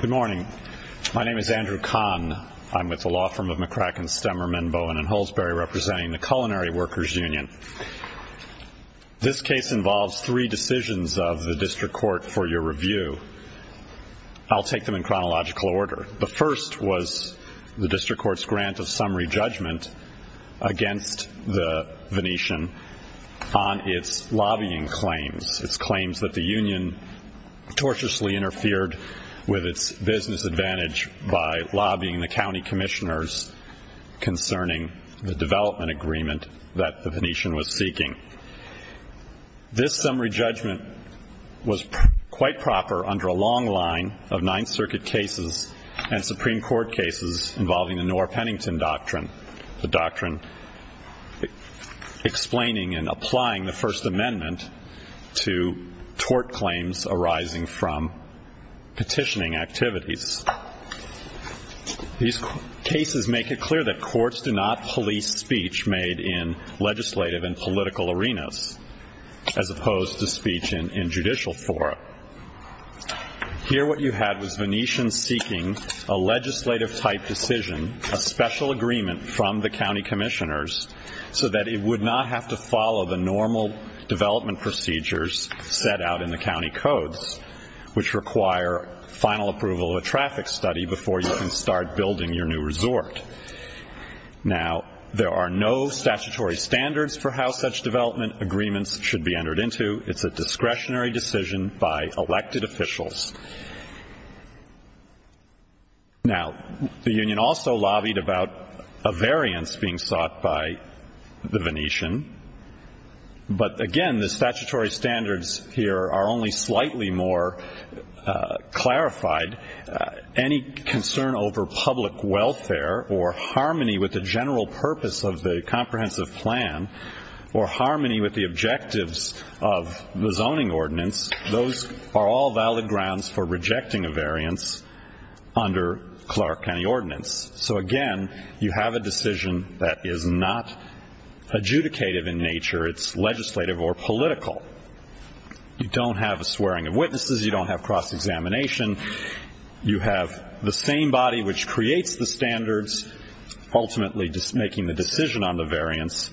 Good morning. My name is Andrew Kahn. I'm with the law firm of McCracken, Stemmer, Menbowin, and Hulsberry representing the Culinary Workers Union. This case involves three decisions of the District Court for your review. I'll take them in chronological order. The first was the District Court's grant of summary judgment against the Venetian on its lobbying claims, its claims that the union torturously interfered with its business advantage by lobbying the county commissioners concerning the development agreement that the Venetian was seeking. This summary judgment was quite proper under a long line of Ninth Circuit cases and Supreme Court cases involving the Noor-Pennington Doctrine, the doctrine explaining and applying the First Amendment to tort claims arising from petitioning activities. These cases make it clear that courts do not police speech made in legislative and political arenas as opposed to speech in judicial fora. Here what you had was Venetians seeking a legislative type decision, a special agreement from the county commissioners so that it would not have to follow the normal development procedures set out in the county codes, which require final approval of a traffic study before you can start building your new resort. Now, there are no statutory standards for how such development agreements should be entered into. It's a discretionary decision by elected officials. Now, the union also But, again, the statutory standards here are only slightly more clarified. Any concern over public welfare or harmony with the general purpose of the comprehensive plan or harmony with the objectives of the zoning ordinance, those are all valid grounds for rejecting a variance under Clark County Ordinance. So, again, you have a decision that is not adjudicative in nature. It's legislative or political. You don't have a swearing of witnesses. You don't have cross-examination. You have the same body which creates the standards, ultimately making the decision on the variance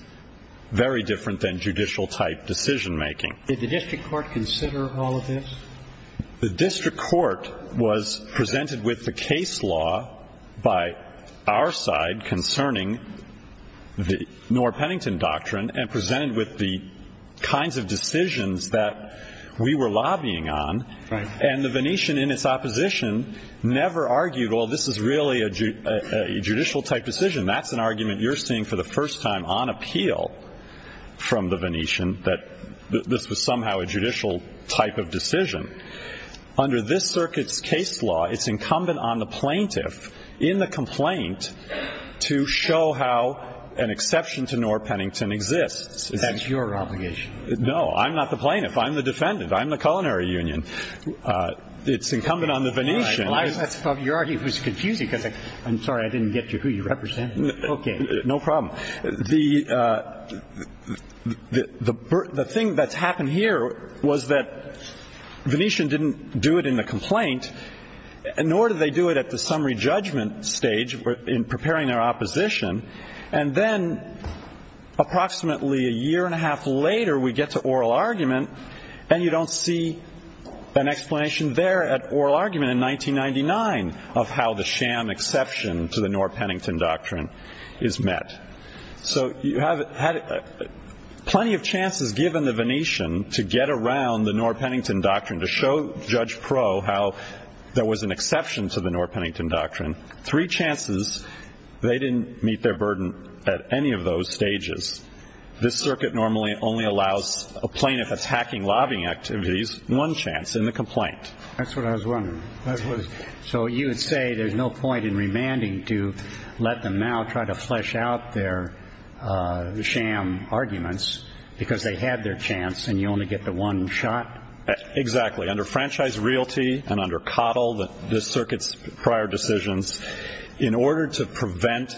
very different than judicial type decision making. Did the district court consider all of this? The district court was presented with the case law by our side concerning the Norr Pennington Doctrine and presented with the kinds of decisions that we were lobbying on and the Venetian in its opposition never argued, well, this is really a judicial type decision. That's an argument you're seeing for the first time on appeal from the Venetian that this was somehow a judicial type of decision. Under this circuit's case law, it's incumbent on the plaintiff in the complaint to show how an exception to Norr Pennington exists. That's your obligation. No. I'm not the plaintiff. I'm the defendant. I'm the culinary union. It's incumbent on the Venetian. Right. Well, that's probably your argument. It's confusing because I'm sorry I didn't get you who you represented. Okay. No problem. The thing that's happened here was that Venetian didn't do it in the complaint, nor did they do it at the summary judgment stage in preparing their opposition. And then approximately a year and a half later, we get to oral argument and you don't see an explanation there at oral argument in 1999 of how the sham exception to the Norr Pennington Doctrine is met. So you have had plenty of chances given the Venetian to get around the there was an exception to the Norr Pennington Doctrine, three chances they didn't meet their burden at any of those stages. This circuit normally only allows a plaintiff attacking lobbying activities one chance in the complaint. That's what I was wondering. So you would say there's no point in remanding to let them now try to flesh out their sham arguments because they had their chance and you only get the one shot? Exactly. Under franchise realty and under coddle that this circuit's prior decisions in order to prevent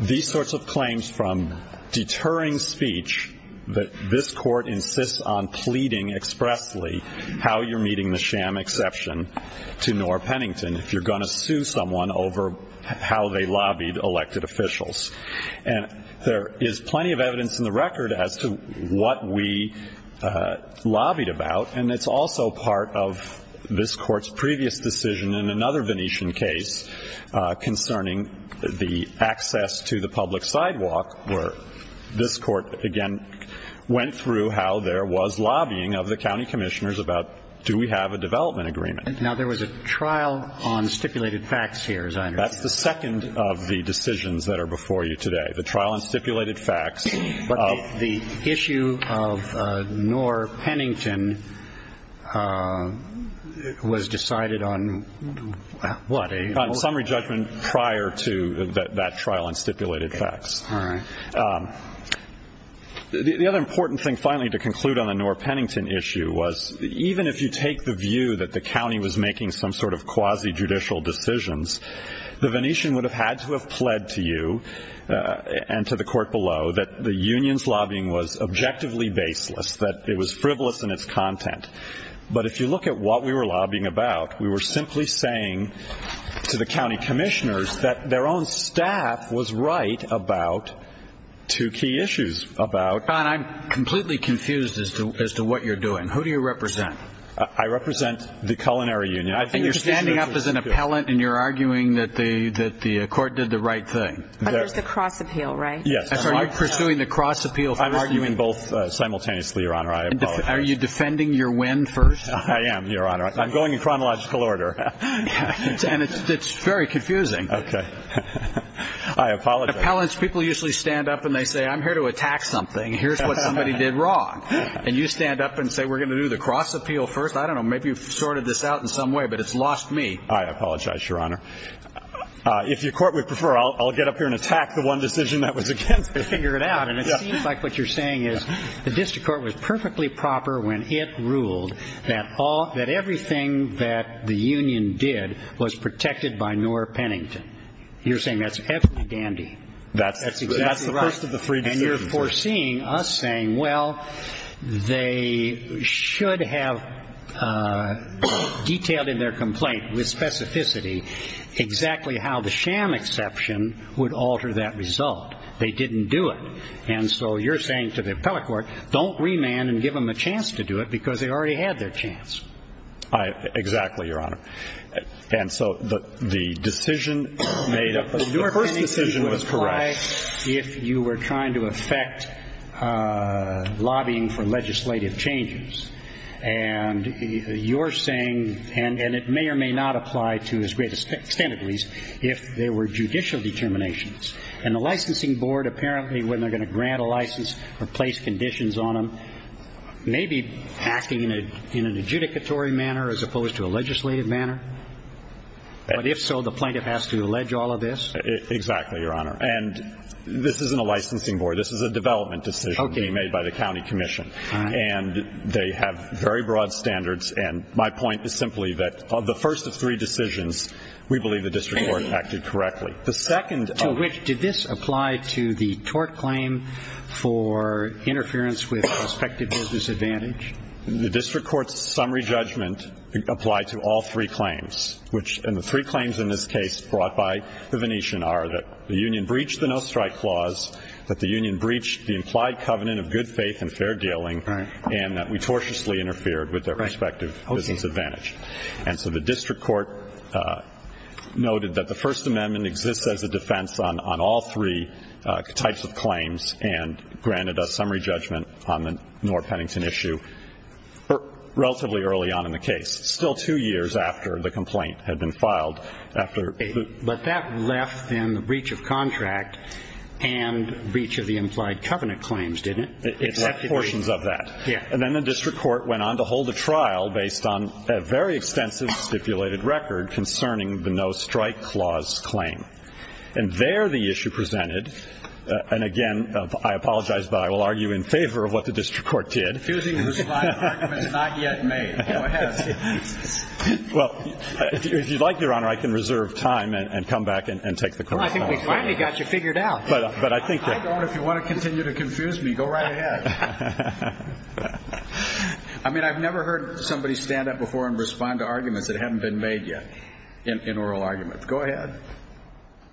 these sorts of claims from deterring speech that this court insists on pleading expressly how you're meeting the sham exception to Norr Pennington if you're going to sue someone over how they lobbied elected officials. And there is plenty of And it's also part of this court's previous decision in another Venetian case concerning the access to the public sidewalk where this court again went through how there was lobbying of the county commissioners about do we have a development agreement. Now there was a trial on stipulated facts here as I understand. That's the second of the decisions that are before you today. The trial on stipulated facts. But the issue of Norr Pennington was decided on what a summary judgment prior to that trial and stipulated facts. The other important thing finally to conclude on the Norr Pennington issue was even if you take the view that the county was making some sort of quasi judicial decisions, the Venetian would have had to have pled to you and to the court below that the union's lobbying was objectively baseless, that it was frivolous in its content. But if you look at what we were lobbying about, we were simply saying to the county commissioners that their own staff was right about two key issues about. Don, I'm completely confused as to what you're doing. Who do you represent? I represent the culinary union. You're standing up as an appellant and you're arguing that the court did the right thing. But there's the cross appeal, right? Yes. So you're pursuing the cross appeal. I'm arguing both simultaneously, Your Honor. Are you defending your win first? I am, Your Honor. I'm going in chronological order. And it's very confusing. Okay. I apologize. Appellants, people usually stand up and they say, I'm here to attack something. Here's what somebody did wrong. And you stand up and say, we're going to do the cross appeal first. I don't know. Maybe you've sorted this out in some way, but it's lost me. I apologize, Your Honor. If your court would prefer, I'll get up here and attack the one decision that was against me. Figure it out. And it seems like what you're saying is the district court was perfectly proper when it ruled that everything that the union did was protected by Noor Pennington. You're saying that's absolutely dandy. That's exactly right. That's the first of the three decisions. You're foreseeing us saying, well, they should have detailed in their complaint with specificity exactly how the sham exception would alter that result. They didn't do it. And so you're saying to the appellate court, don't remand and give them a chance to do it because they already had their chance. Exactly, Your Honor. And so the decision made up of Noor Pennington was correct. If you were trying to affect lobbying for legislative changes and you're saying and it may or may not apply to as great extent, at least if there were judicial determinations and the licensing board, apparently when they're going to grant a license or place conditions on them, maybe acting in an adjudicatory manner as opposed to a legislative manner. But if so, the plaintiff has to allege all of this. Exactly, Your Honor. And this isn't a licensing board. This is a development decision being made by the county commission. And they have very broad standards. And my point is simply that of the first of three decisions, we believe the district court acted correctly. The second of which did this apply to the tort claim for interference with prospective business advantage? The district court's summary judgment applied to all three claims, which in the three in this case brought by the Venetian are that the union breached the no strike clause, that the union breached the implied covenant of good faith and fair dealing, and that we tortiously interfered with their respective business advantage. And so the district court noted that the First Amendment exists as a defense on all three types of claims and granted a summary judgment on the Noor Pennington issue relatively early on in the case. Still two years after the complaint had been filed. But that left then the breach of contract and breach of the implied covenant claims, didn't it? It left portions of that. And then the district court went on to hold a trial based on a very extensive stipulated record concerning the no strike clause claim. And there the issue presented, and again, I apologize, but I will argue in favor of what the district court did. Refusing to respond to arguments not yet made. Well, if you'd like, Your Honor, I can reserve time and come back and take the question. Well, I think we finally got you figured out. But I think that. I don't. If you want to continue to confuse me, go right ahead. I mean, I've never heard somebody stand up before and respond to arguments that haven't been made yet in oral arguments. Go ahead.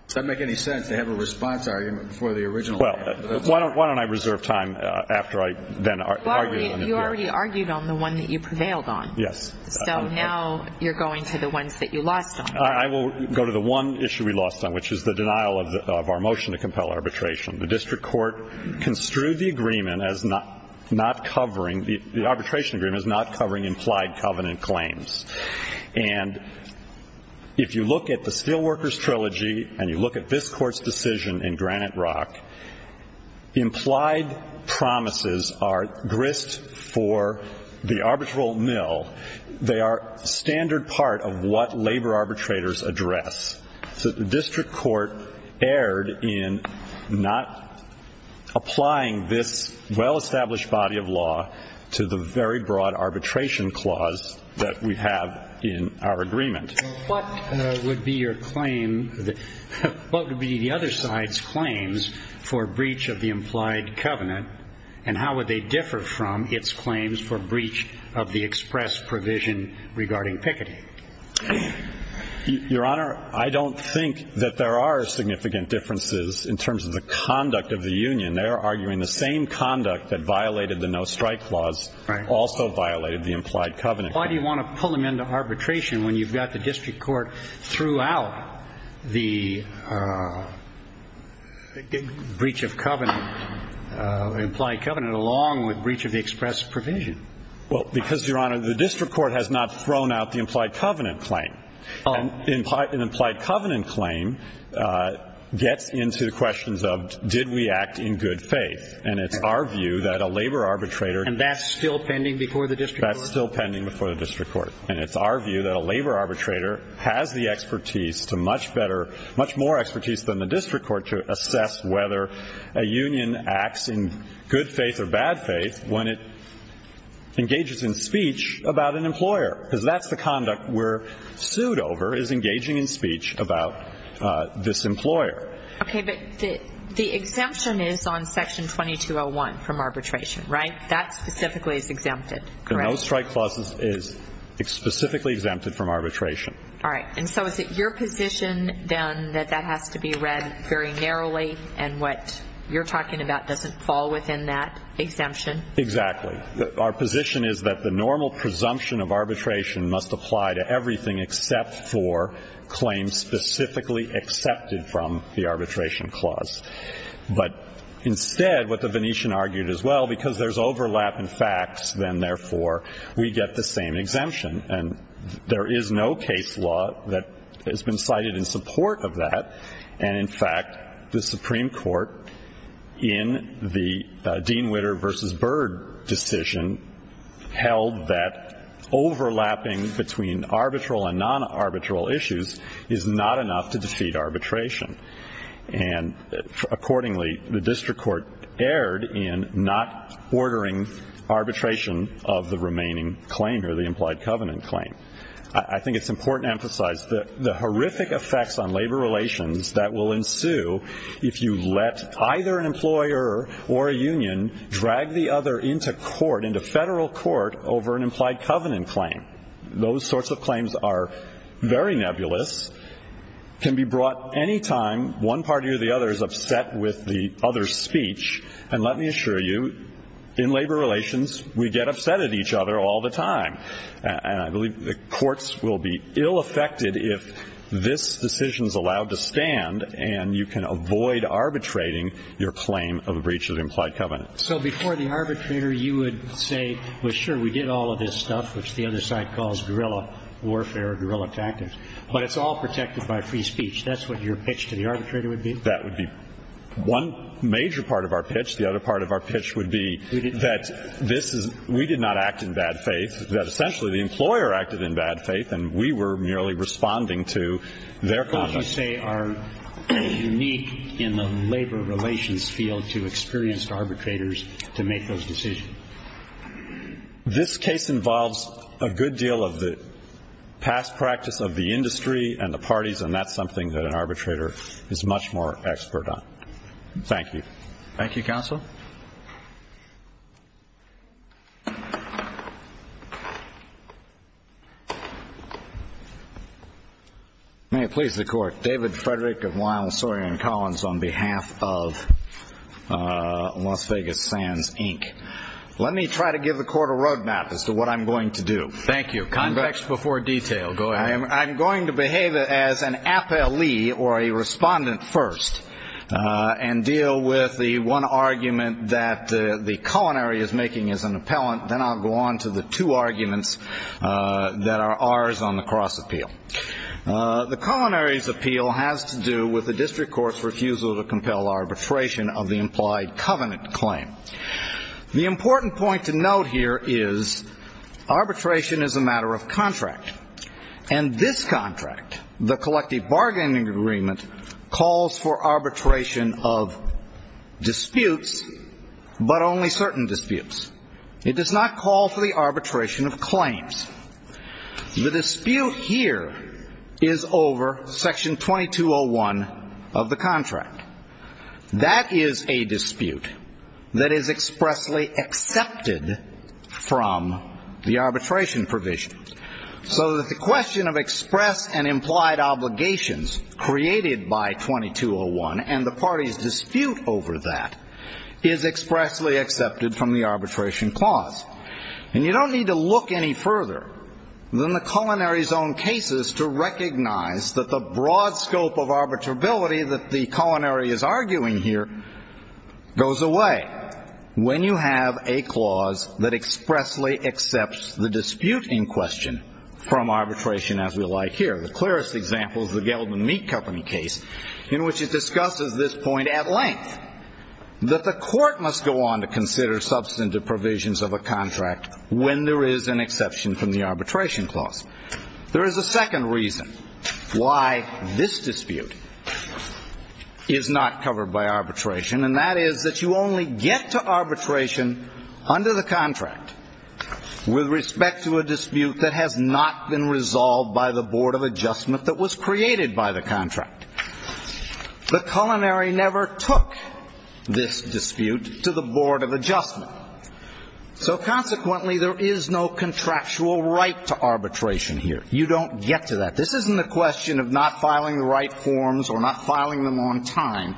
Does that make any sense to have a response argument before the original? Well, why don't I reserve time after I then argue? You already argued on the one that you prevailed on. Yes. So now you're going to the ones that you lost. I will go to the one issue we lost on, which is the denial of our motion to compel arbitration. The district court construed the agreement as not not covering the arbitration agreement is not covering implied covenant claims. And if you look at the Steelworkers Trilogy and you look at this court's decision in Granite Rock, implied promises are grist for the arbitral mill. They are standard part of what labor arbitrators address. So the district court erred in not applying this well-established body of law to the very broad arbitration clause that we have in our agreement. What would be your claim? What would be the other side's claims for breach of the implied covenant? And how would they differ from its claims for breach of the express provision regarding Piketty? Your Honor, I don't think that there are significant differences in terms of the conduct of the union. They are arguing the same conduct that violated the no strike clause also violated the implied covenant. Why do you want to pull them into arbitration when you've got the district court throughout the breach of covenant, implied covenant, along with breach of the express provision? Well, because, Your Honor, the district court has not thrown out the implied covenant claim. An implied covenant claim gets into the questions of did we act in good faith? And it's our view that a labor arbitrator. And that's still pending before the district court? That's still pending before the district court. And it's our view that a labor arbitrator has the expertise to much better, much more expertise than the district court to assess whether a union acts in good faith or bad faith when it engages in speech about an employer. Because that's the conduct we're sued over is engaging in speech about this employer. Okay, but the exemption is on section 2201 from arbitration, right? That specifically is exempted, correct? No strike clause is specifically exempted from arbitration. All right, and so is it your position, then, that that has to be read very narrowly and what you're talking about doesn't fall within that exemption? Exactly. Our position is that the normal presumption of arbitration must apply to everything except for claims specifically accepted from the arbitration clause. But instead, what the Venetian argued as well, because there's overlap in facts, then, therefore, we get the same exemption. And there is no case law that has been cited in support of that. And in fact, the Supreme Court in the Dean Witter versus Byrd decision held that overlapping between arbitral and non-arbitral issues is not enough to defeat arbitration. And accordingly, the district court erred in not ordering arbitration of the remaining claim or the implied covenant claim. I think it's important to emphasize that the horrific effects on labor relations that will ensue if you let either an employer or a union drag the other into court, into federal court, over an implied covenant claim, those sorts of claims are very nebulous, can be brought any time one party or the other is upset with the other's speech. And let me assure you, in labor relations, we get upset at each other all the time. And I believe the courts will be ill-affected if this decision is allowed to stand, and you can avoid arbitrating your claim of a breach of the implied covenant. So before the arbitrator, you would say, well, sure, we did all of this stuff, which the other side calls guerrilla warfare or guerrilla tactics. But it's all protected by free speech. That's what your pitch to the arbitrator would be? That would be one major part of our pitch. The other part of our pitch would be that we did not act in bad faith, that essentially the employer acted in bad faith, and we were merely responding to their claim. What would you say are unique in the labor relations field to experienced arbitrators to make those decisions? This case involves a good deal of the past practice of the industry and the parties, and that's something that an arbitrator is much more expert on. Thank you. Thank you, Counsel. May it please the Court. David Frederick of Lyell, Sawyer & Collins, on behalf of Las Vegas Sands, Inc. Let me try to give the Court a roadmap as to what I'm going to do. Thank you. Convex before detail. Go ahead. I'm going to behave as an appellee, or a respondent first, and deal with the one argument that the culinary is making as an appellant. Then I'll go on to the two arguments that are ours on the cross appeal. The culinary's appeal has to do with the district court's refusal to compel arbitration of the implied covenant claim. The important point to note here is arbitration is a matter of contract, and this contract, the collective bargaining agreement, calls for arbitration of disputes, but only certain disputes. It does not call for the arbitration of claims. The dispute here is over Section 2201 of the contract. That is a dispute that is expressly accepted from the arbitration provision, so that the question of express and implied obligations created by 2201, and the party's dispute over that, is expressly accepted from the arbitration clause. And you don't need to look any further than the culinary's own cases to recognize that the broad scope of arbitrability that the culinary is arguing here goes away when you have a clause that expressly accepts the dispute in question from arbitration as we like here. The clearest example is the Gelbin Meat Company case, in which it discusses this point at length, that the court must go on to consider substantive provisions of a contract when there is an exception from the arbitration clause. There is a second reason why this dispute is not covered by arbitration, and that is that you only get to arbitration under the contract with respect to a dispute that has not been resolved by the board of adjustment that was created by the contract. The culinary never took this dispute to the board of adjustment, so consequently there is no contractual right to arbitration here. You don't get to that. This isn't a question of not filing the right forms or not filing them on time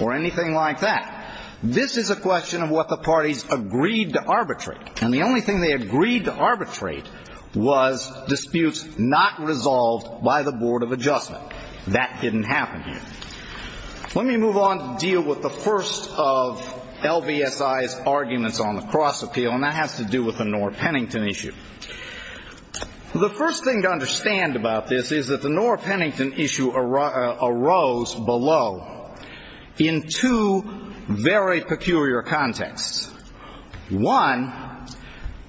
or anything like that. This is a question of what the parties agreed to arbitrate. And the only thing they agreed to arbitrate was disputes not resolved by the board of adjustment. That didn't happen here. Let me move on to deal with the first of LVSI's arguments on the cross appeal, and that has to do with the Nora Pennington issue. The first thing to understand about this is that the Nora Pennington issue arose below in two very peculiar contexts. One,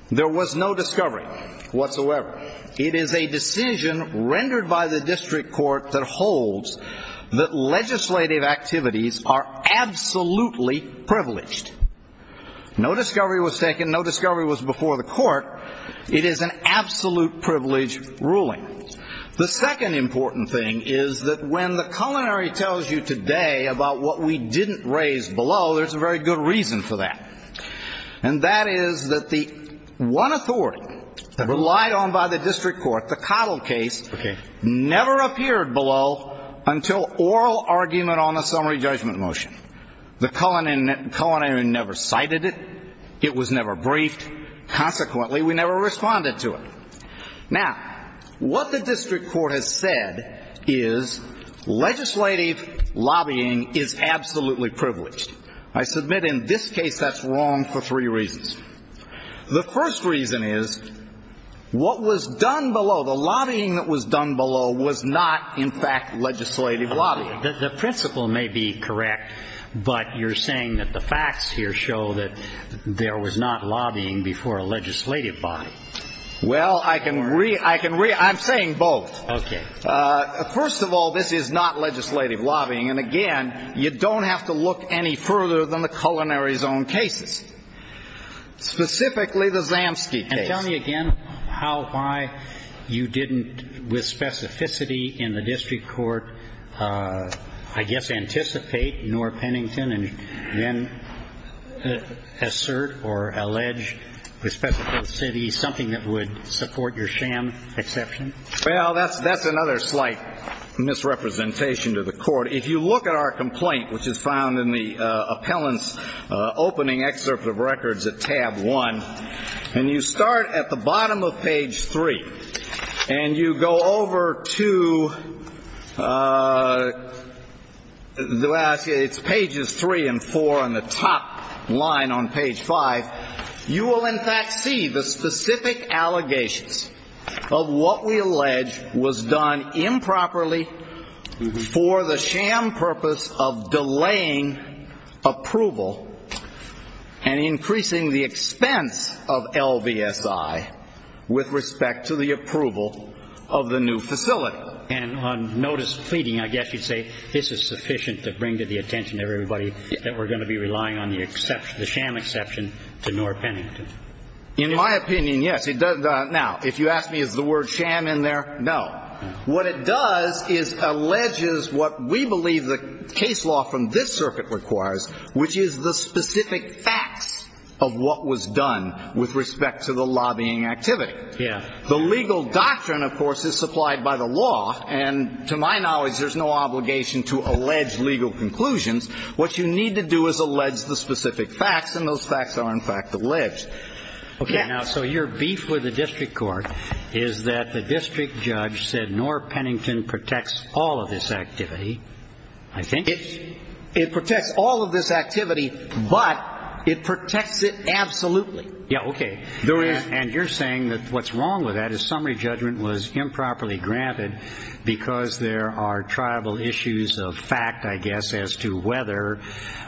there was no discovery whatsoever. It is a decision rendered by the district court that holds that legislative activities are absolutely privileged. No discovery was taken. No discovery was before the court. It is an absolute privilege ruling. The second important thing is that when the culinary tells you today about what we didn't raise below, there's a very good reason for that. And that is that the one authority that relied on by the district court, the Cottle case, never appeared below until oral argument on a summary judgment motion. The culinary never cited it. It was never briefed. Consequently, we never responded to it. Now, what the district court has said is legislative lobbying is absolutely privileged. I submit in this case that's wrong for three reasons. The first reason is what was done below, the lobbying that was done below, was not, in fact, legislative lobbying. The principle may be correct, but you're saying that the facts here show that there was not lobbying before a legislative body. Well, I can re- I'm saying both. First of all, this is not legislative lobbying. And again, you don't have to look any further than the culinary's own cases. Specifically, the Zamsky case. And tell me again how, why you didn't, with specificity in the district court, I guess anticipate, nor Pennington, and then assert or allege with specificity something that would support your sham exception? Well, that's another slight misrepresentation to the court. If you look at our complaint, which is found in the appellant's opening excerpt of records, at tab one, and you start at the bottom of page three, and you go over to, it's pages three and four on the top line on page five, you will, in fact, see the specific allegations of what we allege was done improperly for the sham purpose of delaying approval and increasing the expense of LVSI with respect to the approval of the new facility. And on notice pleading, I guess you'd say this is sufficient to bring to the attention of everybody that we're going to be relying on the sham exception to nor Pennington. In my opinion, yes, it does. Now, if you ask me, is the word sham in there? No. What it does is alleges what we believe the case law from this circuit requires, which is the specific facts of what was done with respect to the lobbying activity. Yeah. The legal doctrine, of course, is supplied by the law. And to my knowledge, there's no obligation to allege legal conclusions. What you need to do is allege the specific facts. And those facts are, in fact, alleged. Okay. Now, so your beef with the district court is that the district judge said nor Pennington protects all of this activity. I think it protects all of this activity, but it protects it. Absolutely. Yeah. Okay. There is. And you're saying that what's wrong with that is summary judgment was improperly granted because there are tribal issues of fact, I guess, as to whether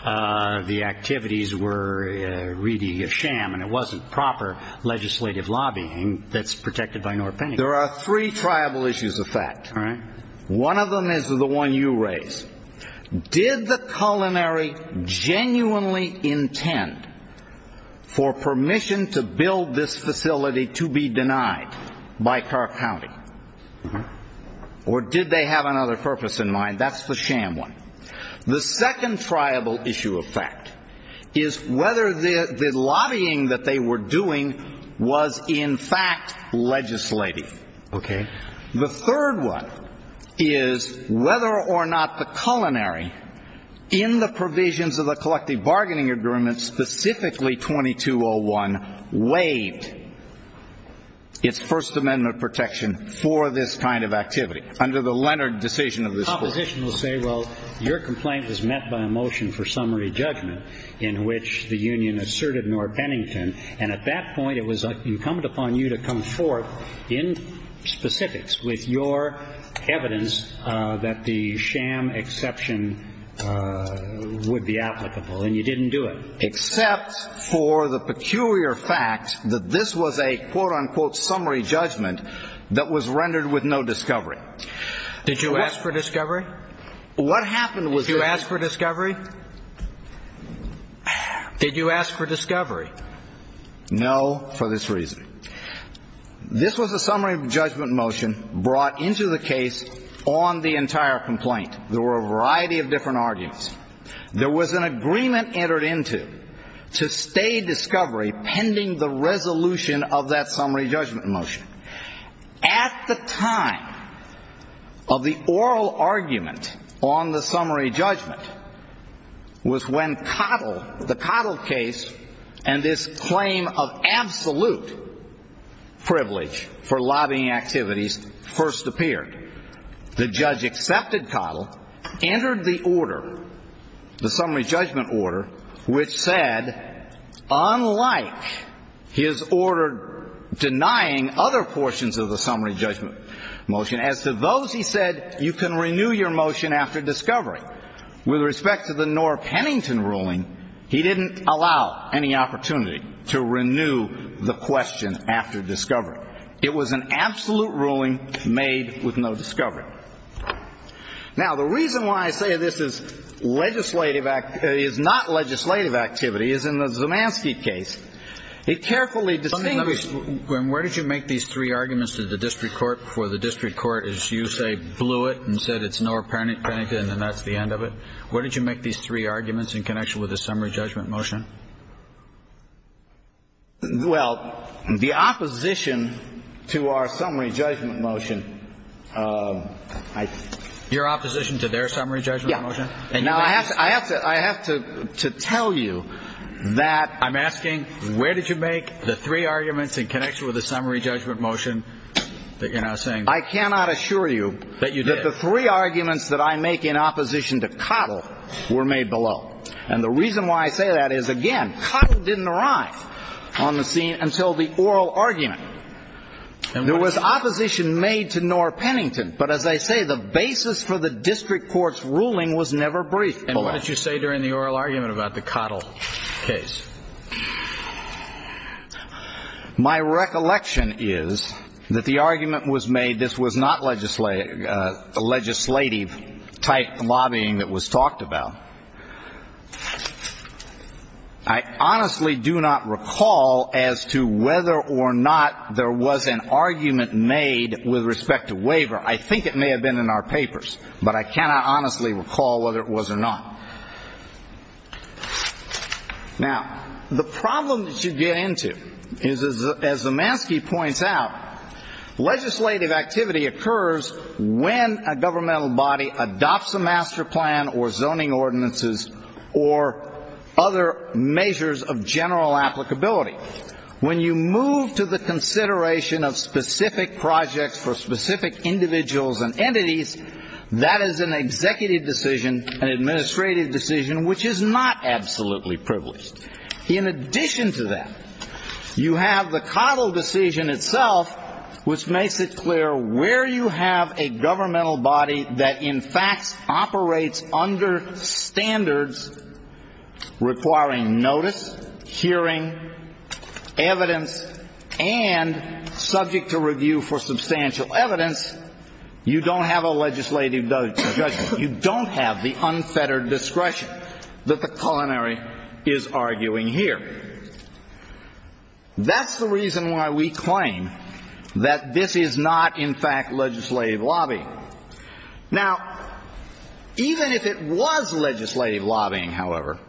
the activities were really a sham and it wasn't proper legislative lobbying that's protected by nor Pennington. There are three tribal issues of fact. All right. One of them is the one you raise. Did the culinary genuinely intend for permission to build this facility to be denied by Clark County? Or did they have another purpose in mind? That's the sham one. The second tribal issue of fact is whether the lobbying that they were doing was, in fact, legislative. Okay. The third one is whether or not the culinary in the provisions of the collective bargaining agreement, specifically 2201, waived its First Amendment protection for this kind of activity under the Leonard decision of this court. Well, your complaint was met by a motion for summary judgment in which the union asserted nor Pennington. And at that point, it was incumbent upon you to come forth in specifics with your evidence that the sham exception would be applicable. And you didn't do it except for the peculiar fact that this was a quote unquote summary judgment that was rendered with no discovery. Did you ask for discovery? What happened was you asked for discovery? Did you ask for discovery? No. For this reason, this was a summary of judgment motion brought into the case on the entire complaint. There were a variety of different arguments. There was an agreement entered into to stay discovery pending the resolution of that summary judgment motion. At the time of the oral argument on the summary judgment was when Cottle, the Cottle case and this claim of absolute privilege for lobbying activities first appeared. The judge accepted Cottle, entered the order, the summary judgment order, which said, unlike his order denying other portions of the summary judgment motion, as to those he said, you can renew your motion after discovery. With respect to the nor Pennington ruling, he didn't allow any opportunity to renew the question after discovery. It was an absolute ruling made with no discovery. Now, the reason why I say this is legislative is not legislative activity is in the Zemanski case. It carefully distinguishes. Where did you make these three arguments to the district court for the district court as you say, blew it and said it's nor Pennington and that's the end of it? Where did you make these three arguments in connection with the summary judgment motion? Well, the opposition to our summary judgment motion. Your opposition to their summary judgment motion. And now I have to I have to I have to tell you that I'm asking where did you make the three arguments in connection with the summary judgment motion that you're now saying? I cannot assure you that you did the three arguments that I make in opposition to Cottle were made below. And the reason why I say that is, again, Cottle didn't arrive on the scene until the oral argument. There was opposition made to nor Pennington. But as I say, the basis for the district court's ruling was never brief. And what did you say during the oral argument about the Cottle case? My recollection is that the argument was made. This was not legislative legislative type lobbying that was talked about. I honestly do not recall as to whether or not there was an argument made with respect to waiver. I think it may have been in our papers, but I cannot honestly recall whether it was or not. Now, the problem that you get into is, as Zemanski points out, legislative activity occurs when a governmental body adopts a master plan or zoning ordinances or other measures of general applicability. When you move to the consideration of specific projects for specific individuals and entities, that is an executive decision, an administrative decision, which is not absolutely privileged. In addition to that, you have the Cottle decision itself, which makes it clear where you have a governmental body that, in fact, operates under standards requiring notice, hearing, evidence, and subject to review for substantial evidence, you don't have a legislative judgment. You don't have the unfettered discretion that the culinary is arguing here. That's the reason why we claim that this is not, in fact, legislative lobbying. Now, even if it was legislative lobbying, however,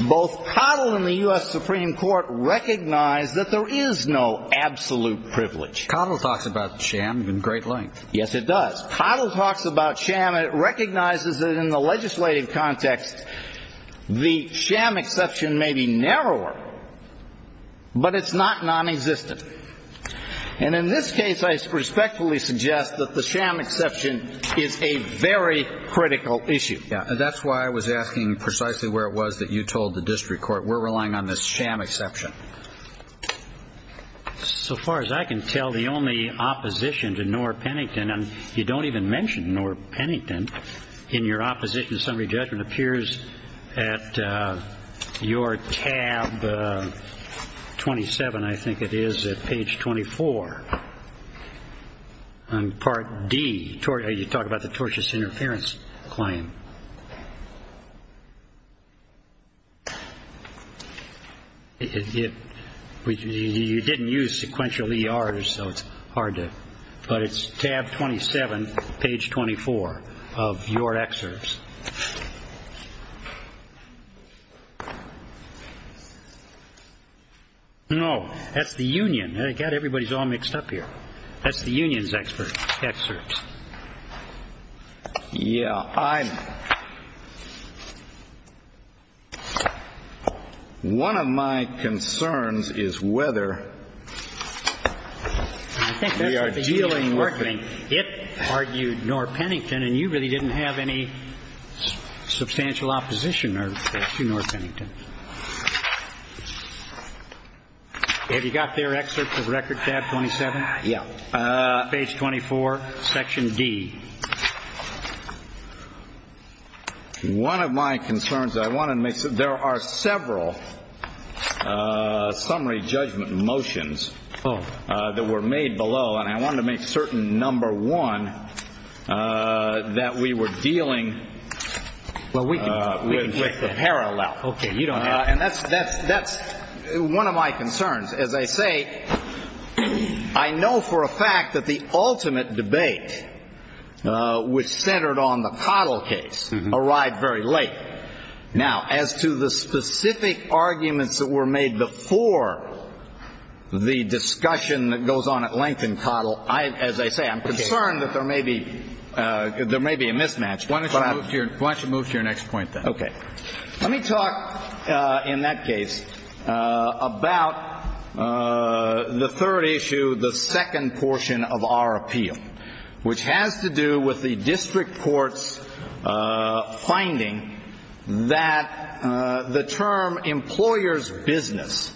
both Cottle and the U.S. Supreme Court recognize that there is no absolute privilege. Cottle talks about sham in great length. Yes, it does. Cottle talks about sham, and it recognizes that in the legislative context, the sham exception may be narrower, but it's not nonexistent. And in this case, I respectfully suggest that the sham exception is a very critical issue. That's why I was asking precisely where it was that you told the district court, we're relying on this sham exception. So far as I can tell, the only opposition to Knorr-Pennington, and you don't even mention Knorr-Pennington in your opposition to summary judgment, appears at your tab 27, I think it is, at page 24. On part D, you talk about the tortious interference claim. It, you didn't use sequential ERs, so it's hard to, but it's tab 27, page 24 of your excerpts. No, that's the union. Again, everybody's all mixed up here. That's the union's excerpts. Yeah, I'm, one of my concerns is whether we are dealing with the union's torturing. It argued Knorr-Pennington, and you really didn't have any substantial opposition to Knorr-Pennington. Have you got their excerpts of record tab 27? Yeah. Page 24, section D. One of my concerns, I want to make, there are several summary judgment motions that were made below, and I want to make certain, number one, that we were dealing with a parallel. Okay, you don't have to. And that's one of my concerns. As I say, I know for a fact that the ultimate debate, which centered on the Cottle case, arrived very late. Now, as to the specific arguments that were made before the discussion that goes on at length in Cottle, as I say, I'm concerned that there may be a mismatch. Why don't you move to your next point, then? Okay. Let me talk, in that case, about the third issue, the second portion of our appeal, which has to do with the district court's finding that the term employer's business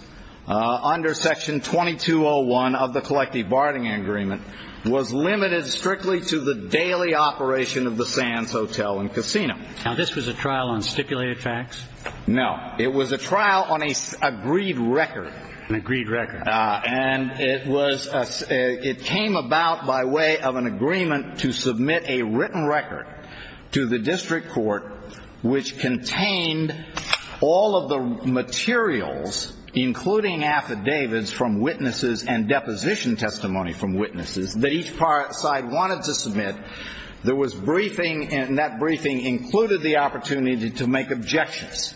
under section 2201 of the collective bargaining agreement was limited strictly to the daily operation of the Sands Hotel and Casino. Now, this was a trial on stipulated facts? No. It was a trial on an agreed record. An agreed record. And it came about by way of an agreement to submit a written record to the district court, which contained all of the materials, including affidavits from witnesses There was briefing, and that briefing included the opportunity to make objections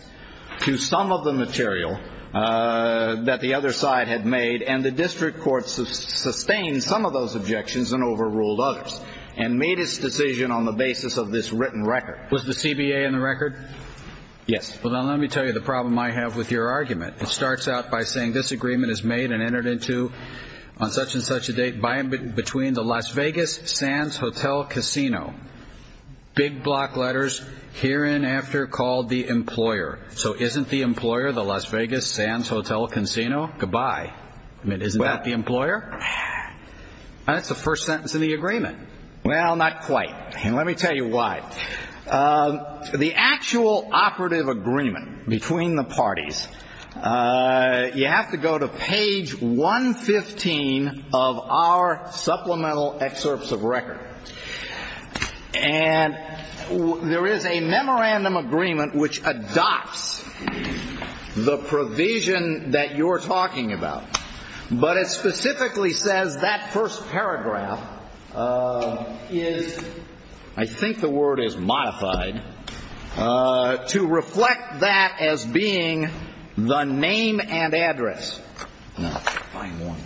to some of the material that the other side had made, and the district court sustained some of those objections and overruled others, and made its decision on the basis of this written record. Was the CBA in the record? Yes. Well, now let me tell you the problem I have with your argument. It starts out by saying this agreement is made and entered into on such and such a date between the Las Vegas Sands Hotel and Casino. Big block letters here and after called the employer. So isn't the employer the Las Vegas Sands Hotel and Casino? Goodbye. Isn't that the employer? And that's the first sentence of the agreement. Well, not quite. And let me tell you why. The actual operative agreement between the parties, you have to go to page 115 of our supplemental excerpts of record. And there is a memorandum agreement which adopts the provision that you're talking about. But it specifically says that first paragraph is, I think the word is modified, to reflect that as being the name and address. No, find one.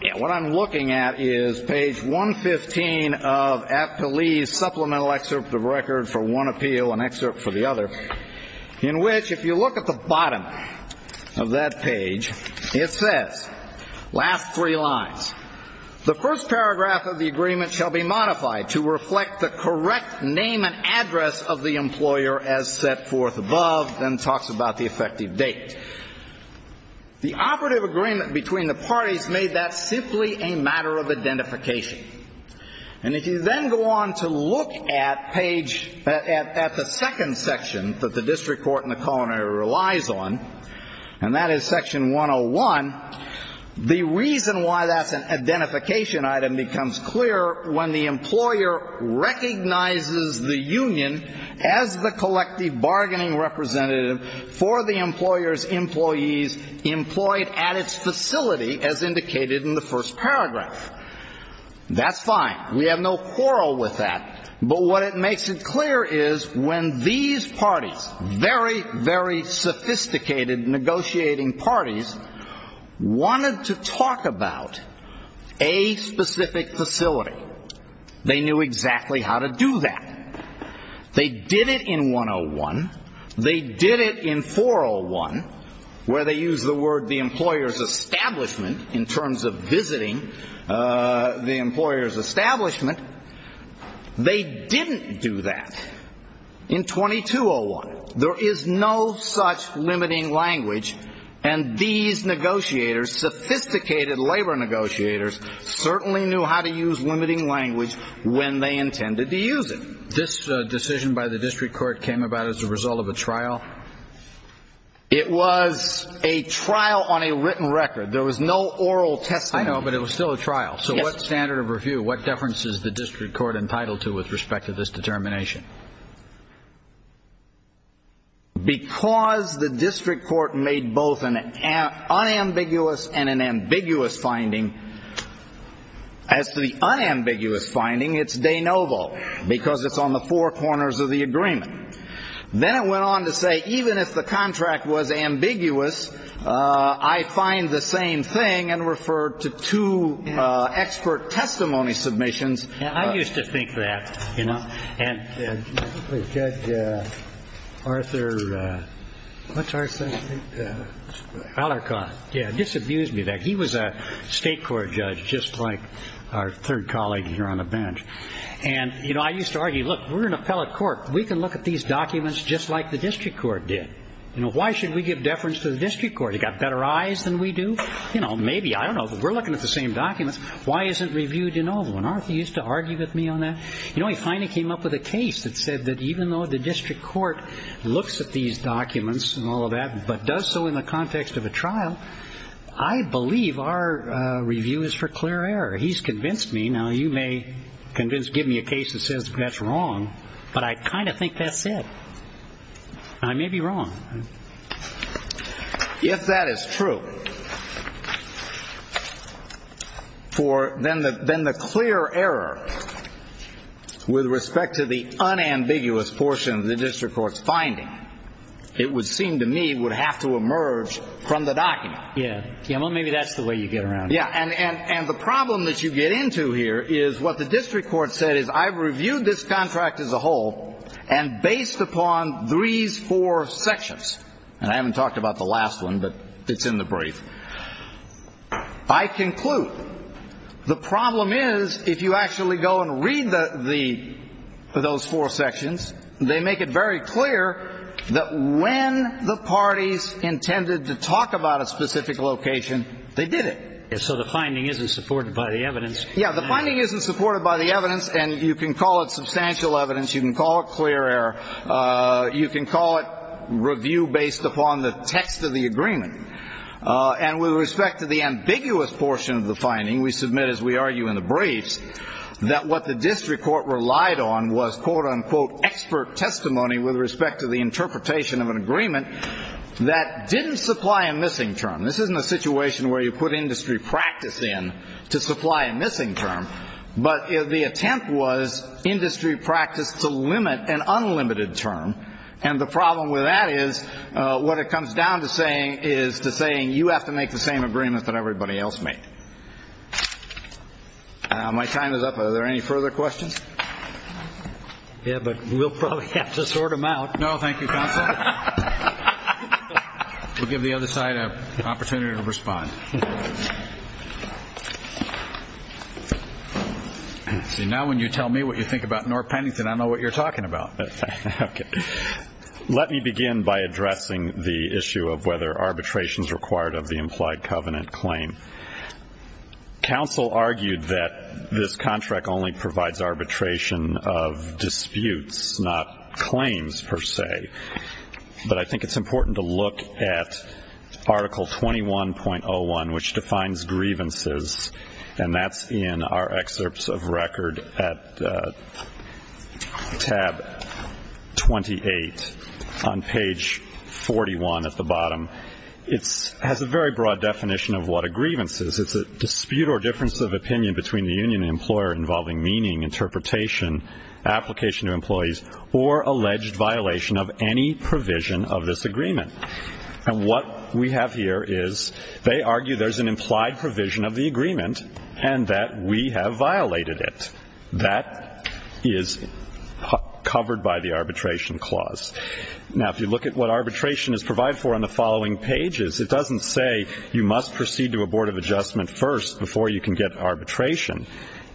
Yeah, what I'm looking at is page 115 of Aptalee's supplemental excerpt of record for one appeal, an excerpt for the other, in which if you look at the bottom of that page, it says, last three lines, the first paragraph of the agreement shall be modified to reflect the correct name and address of the employer as set forth above, then talks about the effective date. The operative agreement between the parties made that simply a matter of identification. And if you then go on to look at page, at the second section that the district court relies on, and that is section 101, the reason why that's an identification item becomes clear when the employer recognizes the union as the collective bargaining representative for the employer's employees employed at its facility as indicated in the first paragraph. That's fine. We have no quarrel with that. But what it makes it clear is when these parties, very, very sophisticated negotiating parties, wanted to talk about a specific facility, they knew exactly how to do that. They did it in 101. They did it in 401, where they use the word the employer's establishment in terms of visiting the employer's establishment. They didn't do that in 2201. There is no such limiting language. And these negotiators, sophisticated labor negotiators, certainly knew how to use limiting language when they intended to use it. This decision by the district court came about as a result of a trial? It was a trial on a written record. There was no oral testimony. I know, but it was still a trial. So what standard of review? What deference is the district court entitled to with respect to this determination? Because the district court made both an unambiguous and an ambiguous finding. As to the unambiguous finding, it's de novo, because it's on the four corners of the agreement. Then it went on to say, even if the contract was ambiguous, I find the same thing and refer to two expert testimony submissions. And I used to think that, you know. And judge Arthur, what's Arthur's name? Alarcon. Yeah, disabuse me of that. He was a state court judge, just like our third colleague here on the bench. And, you know, I used to argue, look, we're an appellate court. We can look at these documents just like the district court did. Why should we give deference to the district court? It got better eyes than we do. You know, maybe, I don't know. We're looking at the same documents. Why isn't review de novo? And Arthur used to argue with me on that. You know, he finally came up with a case that said that even though the district court looks at these documents and all of that, but does so in the context of a trial, I believe our review is for clear error. He's convinced me. Now, you may convince, give me a case that says that's wrong. But I kind of think that's it. And I may be wrong. If that is true, for then the clear error with respect to the unambiguous portion of the district court's finding, it would seem to me would have to emerge from the document. Yeah, yeah. Well, maybe that's the way you get around. Yeah. And the problem that you get into here is what the district court said is I've reviewed this contract as a whole and based upon these four sections, and I haven't talked about the last one, but it's in the brief. I conclude the problem is if you actually go and read the those four sections, they make it very clear that when the parties intended to talk about a specific location, they did it. So the finding isn't supported by the evidence. Yeah, the finding isn't supported by the evidence. And you can call it substantial evidence. You can call it clear error. You can call it review based upon the text of the agreement. And with respect to the ambiguous portion of the finding, we submit, as we argue in the briefs, that what the district court relied on was quote unquote expert testimony with respect to the interpretation of an agreement that didn't supply a missing term. This isn't a situation where you put industry practice in to supply a missing term, but the attempt was industry practice to limit an unlimited term. And the problem with that is what it comes down to saying is to saying you have to make the same agreement that everybody else made. My time is up. Are there any further questions? Yeah, but we'll probably have to sort them out. No, thank you, counsel. We'll give the other side an opportunity to respond. See, now when you tell me what you think about North Pennington, I know what you're talking about. Let me begin by addressing the issue of whether arbitration is required of the implied covenant claim. Counsel argued that this contract only provides arbitration of disputes, not claims per se, but I think it's important to look at article 21.01, which defines grievances, and that's in our excerpts of record at tab 28 on page 41 at the bottom. It has a very broad definition of what a grievance is. It's a dispute or difference of opinion between the union and the employer involving meaning, interpretation, application to employees, or alleged violation of any provision of this agreement. And what we have here is they argue there's an implied provision of the agreement and that we have violated it. That is covered by the arbitration clause. Now, if you look at what arbitration is provided for on the following pages, it doesn't say you must proceed to a board of adjustment first before you can get arbitration.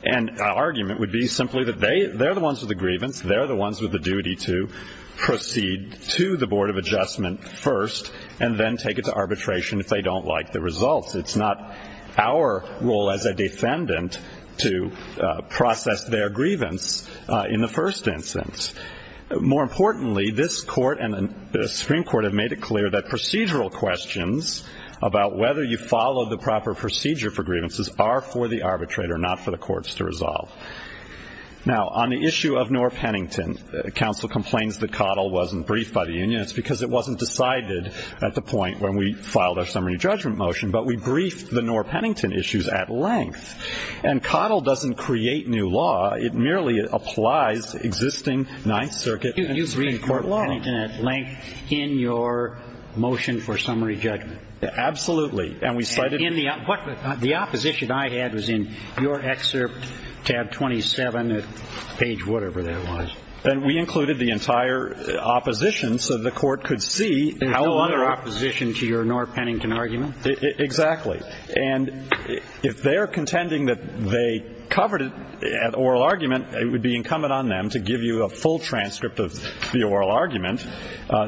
And our argument would be simply that they're the ones with the grievance. They're the ones with the duty to proceed to the board of adjustment first and then take it to arbitration if they don't like the results. It's not our role as a defendant to process their grievance in the first instance. More importantly, this court and the Supreme Court have made it clear that procedural questions about whether you follow the proper procedure for grievances are for the arbitrator, not for the courts to resolve. Now, on the issue of Knorr-Pennington, counsel complains that Coddle wasn't briefed by the union. It's because it wasn't decided at the point when we filed our summary judgment motion. But we briefed the Knorr-Pennington issues at length. And Coddle doesn't create new law. It merely applies existing Ninth Circuit and Supreme Court law. You briefed Knorr-Pennington at length in your motion for summary judgment? Absolutely. And the opposition I had was in your excerpt, tab 27, page whatever that was. And we included the entire opposition so the court could see how other opposition to your Knorr-Pennington argument? Exactly. And if they're contending that they covered it at oral argument, it would be incumbent on them to give you a full transcript of the oral argument.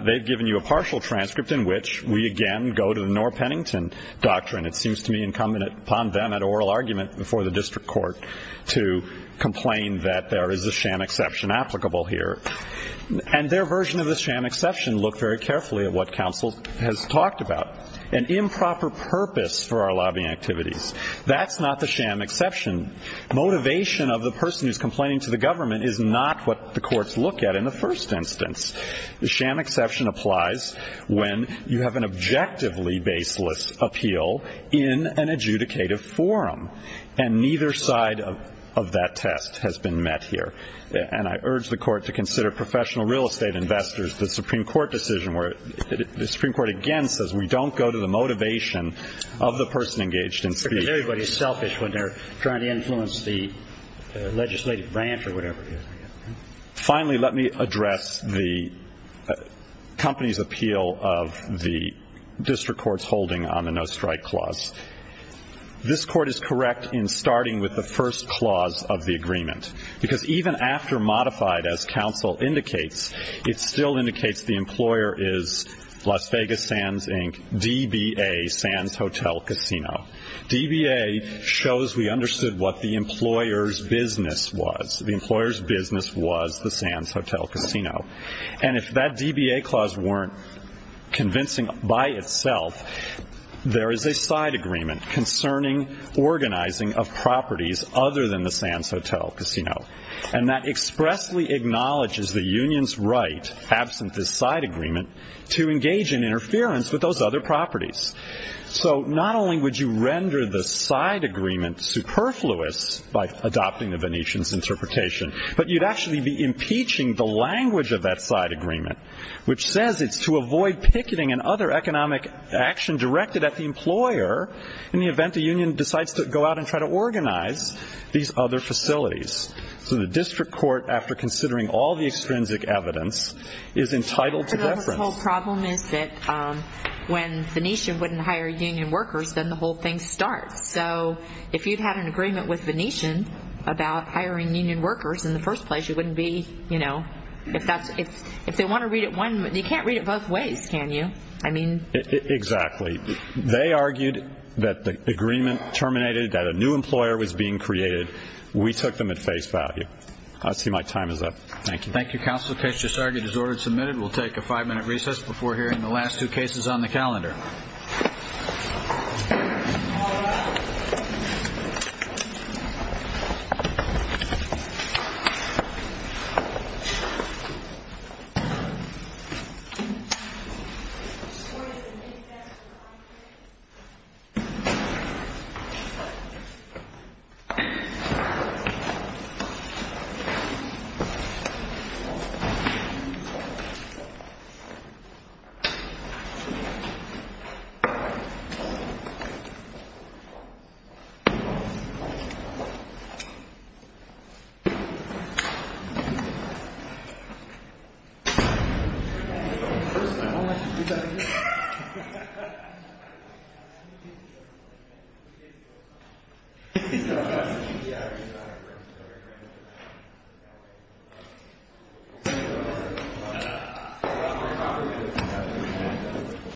They've given you a partial transcript in which we again go to the Knorr-Pennington doctrine. It seems to me incumbent upon them at oral argument before the district court to complain that there is a sham exception applicable here. And their version of the sham exception looked very carefully at what counsel has talked about, an improper purpose for our lobbying activities. That's not the sham exception. Motivation of the person who's complaining to the government is not what the courts look at in the first instance. The sham exception applies when you have an objectively baseless appeal in an adjudicative forum. And neither side of that test has been met here. And I urge the court to consider professional real estate investors, the Supreme Court decision where the Supreme Court again says we don't go to the motivation of the person engaged in speaking. Because everybody's selfish when they're trying to influence the legislative branch or whatever it is. Finally, let me address the company's appeal of the district court's holding on the no strike clause. This court is correct in starting with the first clause of the agreement. Because even after modified as counsel indicates, it still indicates the employer is Las Vegas Sands Inc., DBA, Sands Hotel Casino. DBA shows we understood what the employer's business was. The employer's business was the Sands Hotel Casino. And if that DBA clause weren't convincing by itself, there is a side agreement concerning organizing of properties other than the Sands Hotel Casino. And that expressly acknowledges the union's right, absent this side agreement, to engage in interference with those other properties. So not only would you render the side agreement superfluous by adopting the Venetian's interpretation, but you'd actually be impeaching the language of that side agreement, which says it's to avoid picketing and other economic action directed at the employer in the event the union decides to go out and try to organize these other facilities. So the district court, after considering all the extrinsic evidence, is entitled to reference. The whole problem is that when Venetian wouldn't hire union workers, then the whole thing starts. So if you'd had an agreement with Venetian about hiring union workers in the first place, you wouldn't be, you know, if that's, if they want to read it one, you can't read it both ways, can you? I mean, exactly. They argued that the agreement terminated, that a new employer was being created. We took them at face value. I see my time is up. Thank you. Thank you, counsel. The case just argued is ordered submitted. We'll take a five-minute recess before hearing the last two cases on the calendar.